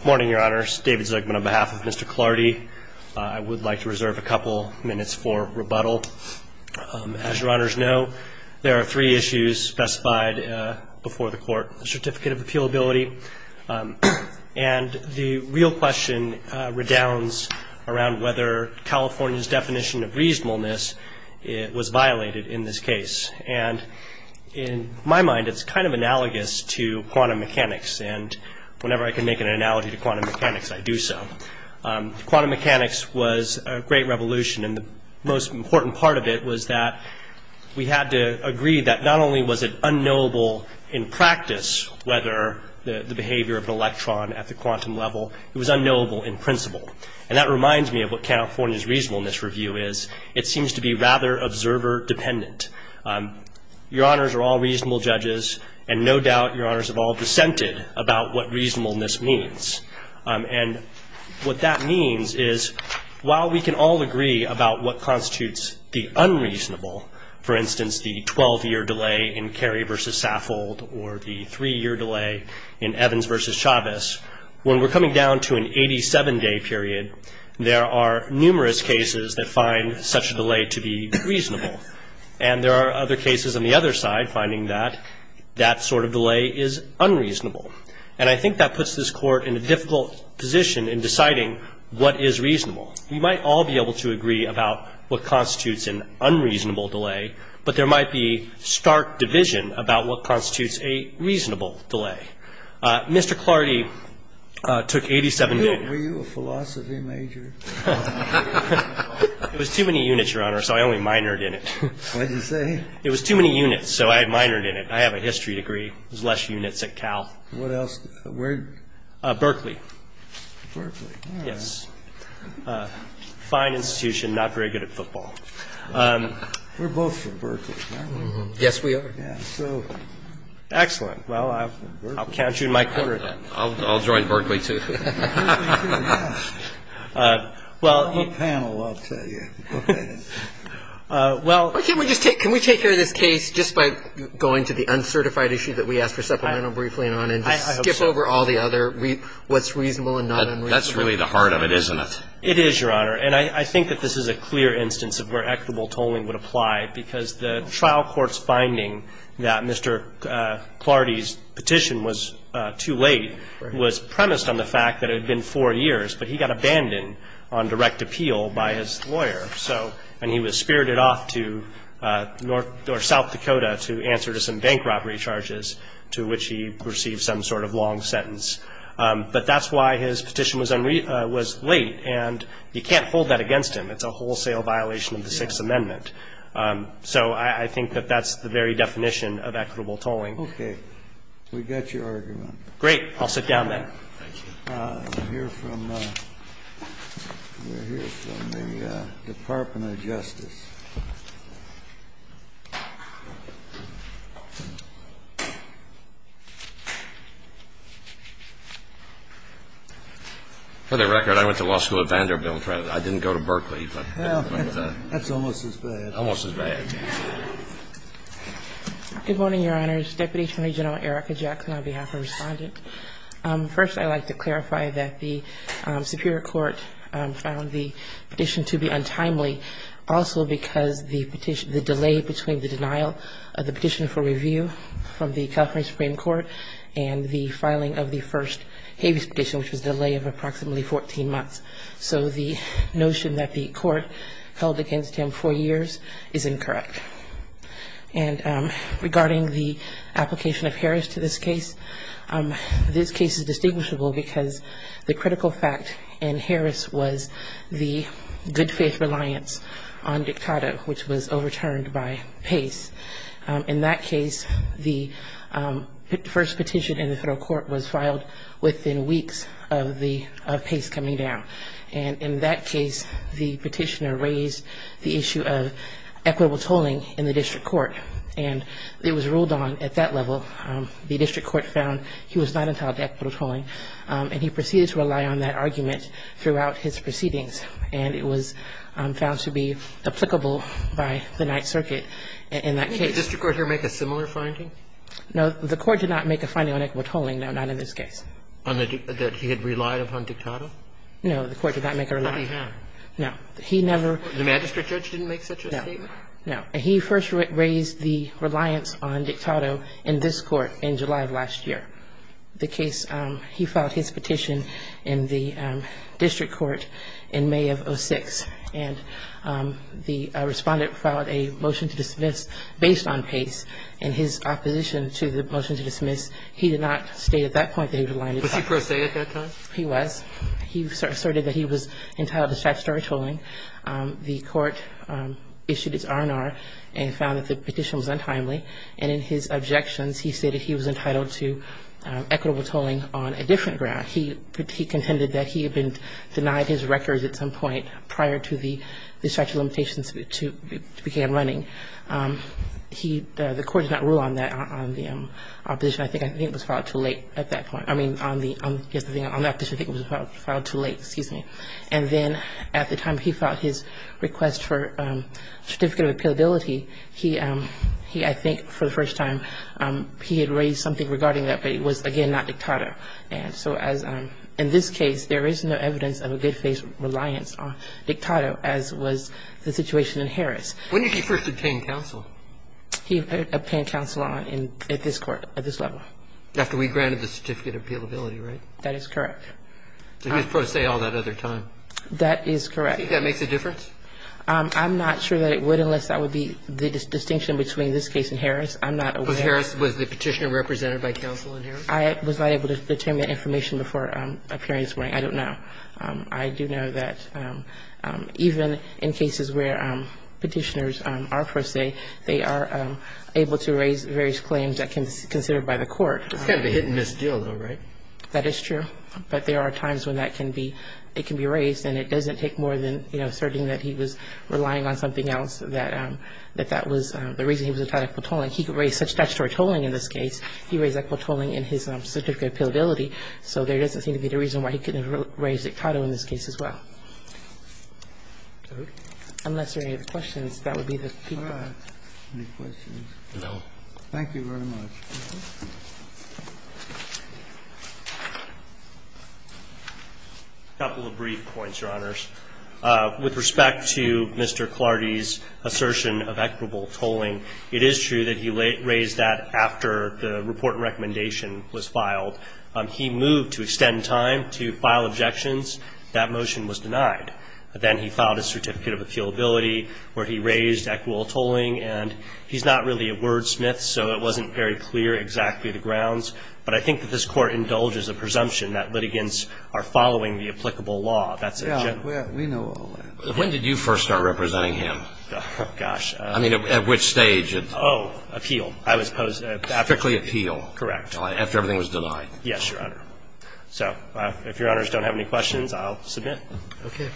Good morning, your honors. David Zuckman on behalf of Mr. Clardy. I would like to reserve a couple minutes for rebuttal. As your honors know, there are three issues specified before the court. The certificate of appealability and the real question redounds around whether California's definition of reasonableness was violated in this case. And in my mind, it's kind of analogous to quantum mechanics. And whenever I can make an analogy to quantum mechanics, I do so. Quantum mechanics was a great revolution. And the most important part of it was that we had to agree that not only was it unknowable in practice, whether the behavior of an electron at the quantum level, it was unknowable in principle. And that reminds me of what California's reasonableness review is. It seems to be rather observer dependent. Your honors are all reasonable judges, and no doubt your honors have all dissented about what reasonableness means. And what that means is while we can all agree about what constitutes the unreasonable, for instance, the 12-year delay in Carey v. Saffold or the three-year delay in Evans v. Chavez, when we're coming down to an 87-day period, there are numerous cases that find such a delay to be reasonable. And there are other cases on the other side finding that that sort of delay is unreasonable. And I think that puts this Court in a difficult position in deciding what is reasonable. We might all be able to agree about what constitutes an unreasonable delay, but there might be stark division about what constitutes a reasonable delay. Mr. Clardy took 87 days. Were you a philosophy major? It was too many units, Your Honor, so I only minored in it. What did you say? It was too many units, so I minored in it. I have a history degree. There's less units at Cal. What else? Berkeley. Berkeley. Yes. Fine institution, not very good at football. We're both from Berkeley. Yes, we are. Excellent. Well, I'll count you in my corner then. I'll join Berkeley, too. Well, you can. I'll tell you. Okay. Well, can we just take care of this case just by going to the uncertified issue that we asked for supplemental briefing on and just skip over all the other what's reasonable and not unreasonable? That's really the heart of it, isn't it? It is, Your Honor. And I think that this is a clear instance of where equitable tolling would apply because the trial court's finding that Mr. Clardy's petition was too late was premised on the fact that it had been four years, but he got abandoned on direct appeal by his lawyer, and he was spirited off to South Dakota to answer to some bank robbery charges, to which he received some sort of long sentence. But that's why his petition was late, and you can't hold that against him. It's a wholesale violation of the Sixth Amendment. So I think that that's the very definition of equitable tolling. Okay. We got your argument. Great. I'll sit down then. Thank you. We're here from the Department of Justice. For the record, I went to law school at Vanderbilt. I didn't go to Berkeley. That's almost as bad. Almost as bad. Good morning, Your Honors. Deputy Attorney General Erica Jackson on behalf of Respondent. First, I'd like to clarify that the superior court found the petition to be untimely also because the delay between the denial of the petition for review from the California Supreme Court and the filing of the first habeas petition, which was a delay of approximately 14 months. So the notion that the court held against him four years is incorrect. And regarding the application of Harris to this case, this case is distinguishable because the critical fact in Harris was the good faith reliance on Dictato, which was overturned by Pace. In that case, the first petition in the federal court was filed within weeks of Pace coming down. And in that case, the petitioner raised the issue of equitable tolling in the district court. And it was ruled on at that level. The district court found he was not entitled to equitable tolling. And he proceeded to rely on that argument throughout his proceedings. And it was found to be applicable by the Ninth Circuit in that case. Did the district court here make a similar finding? No. The court did not make a finding on equitable tolling, no, not in this case. That he had relied upon Dictato? No. The court did not make a reliance. But he had. No. He never ---- The magistrate judge didn't make such a statement? No. No. He first raised the reliance on Dictato in this court in July of last year. The case, he filed his petition in the district court in May of 2006. And the Respondent filed a motion to dismiss based on Pace. In his opposition to the motion to dismiss, he did not state at that point that he relied on Dictato. Was he prosaic at that time? He was. He asserted that he was entitled to statutory tolling. The court issued its R&R and found that the petition was untimely. And in his objections, he stated he was entitled to equitable tolling on a different ground. He contended that he had been denied his records at some point prior to the statute of limitations began running. He ---- the court did not rule on that on the opposition. I think it was filed too late at that point. I mean, on the ---- on that petition, I think it was filed too late. Excuse me. And then at the time he filed his request for certificate of appealability, he, I think, for the first time, he had raised something regarding that, but it was, again, not Dictato. And so as ---- in this case, there is no evidence of a good faith reliance on Dictato as was the situation in Harris. When did he first obtain counsel? He obtained counsel in ---- at this court, at this level. After we granted the certificate of appealability, right? That is correct. He was pro se all that other time. That is correct. Do you think that makes a difference? I'm not sure that it would unless that would be the distinction between this case and Harris. I'm not aware. Was Harris the petitioner represented by counsel in Harris? I was not able to determine the information before appearance. I don't know. I do know that even in cases where petitioners are pro se, they are able to raise various claims that can be considered by the court. It's kind of a hit and miss deal, though, right? That is true. But there are times when that can be raised, and it doesn't take more than asserting that he was relying on something else, that that was the reason he was entitled to a tolling. He could raise such statutory tolling in this case. He raised equitable tolling in his certificate of appealability, so there doesn't seem to be a reason why he couldn't have raised Dictato in this case as well. Unless there are any other questions, that would be the feedback. Any questions? No. Thank you very much. A couple of brief points, Your Honors. With respect to Mr. Clardy's assertion of equitable tolling, it is true that he raised that after the report and recommendation was filed. He moved to extend time to file objections. That motion was denied. Then he filed his certificate of appealability where he raised equitable tolling, and he's not really a wordsmith, so it wasn't very clear exactly the grounds. But I think that this Court indulges a presumption that litigants are following the applicable law. That's a general. We know all that. When did you first start representing him? Gosh. I mean, at which stage? Oh, appeal. I was posed after. Strictly appeal. Correct. After everything was denied. Yes, Your Honor. So if Your Honors don't have any questions, I'll submit. Okay.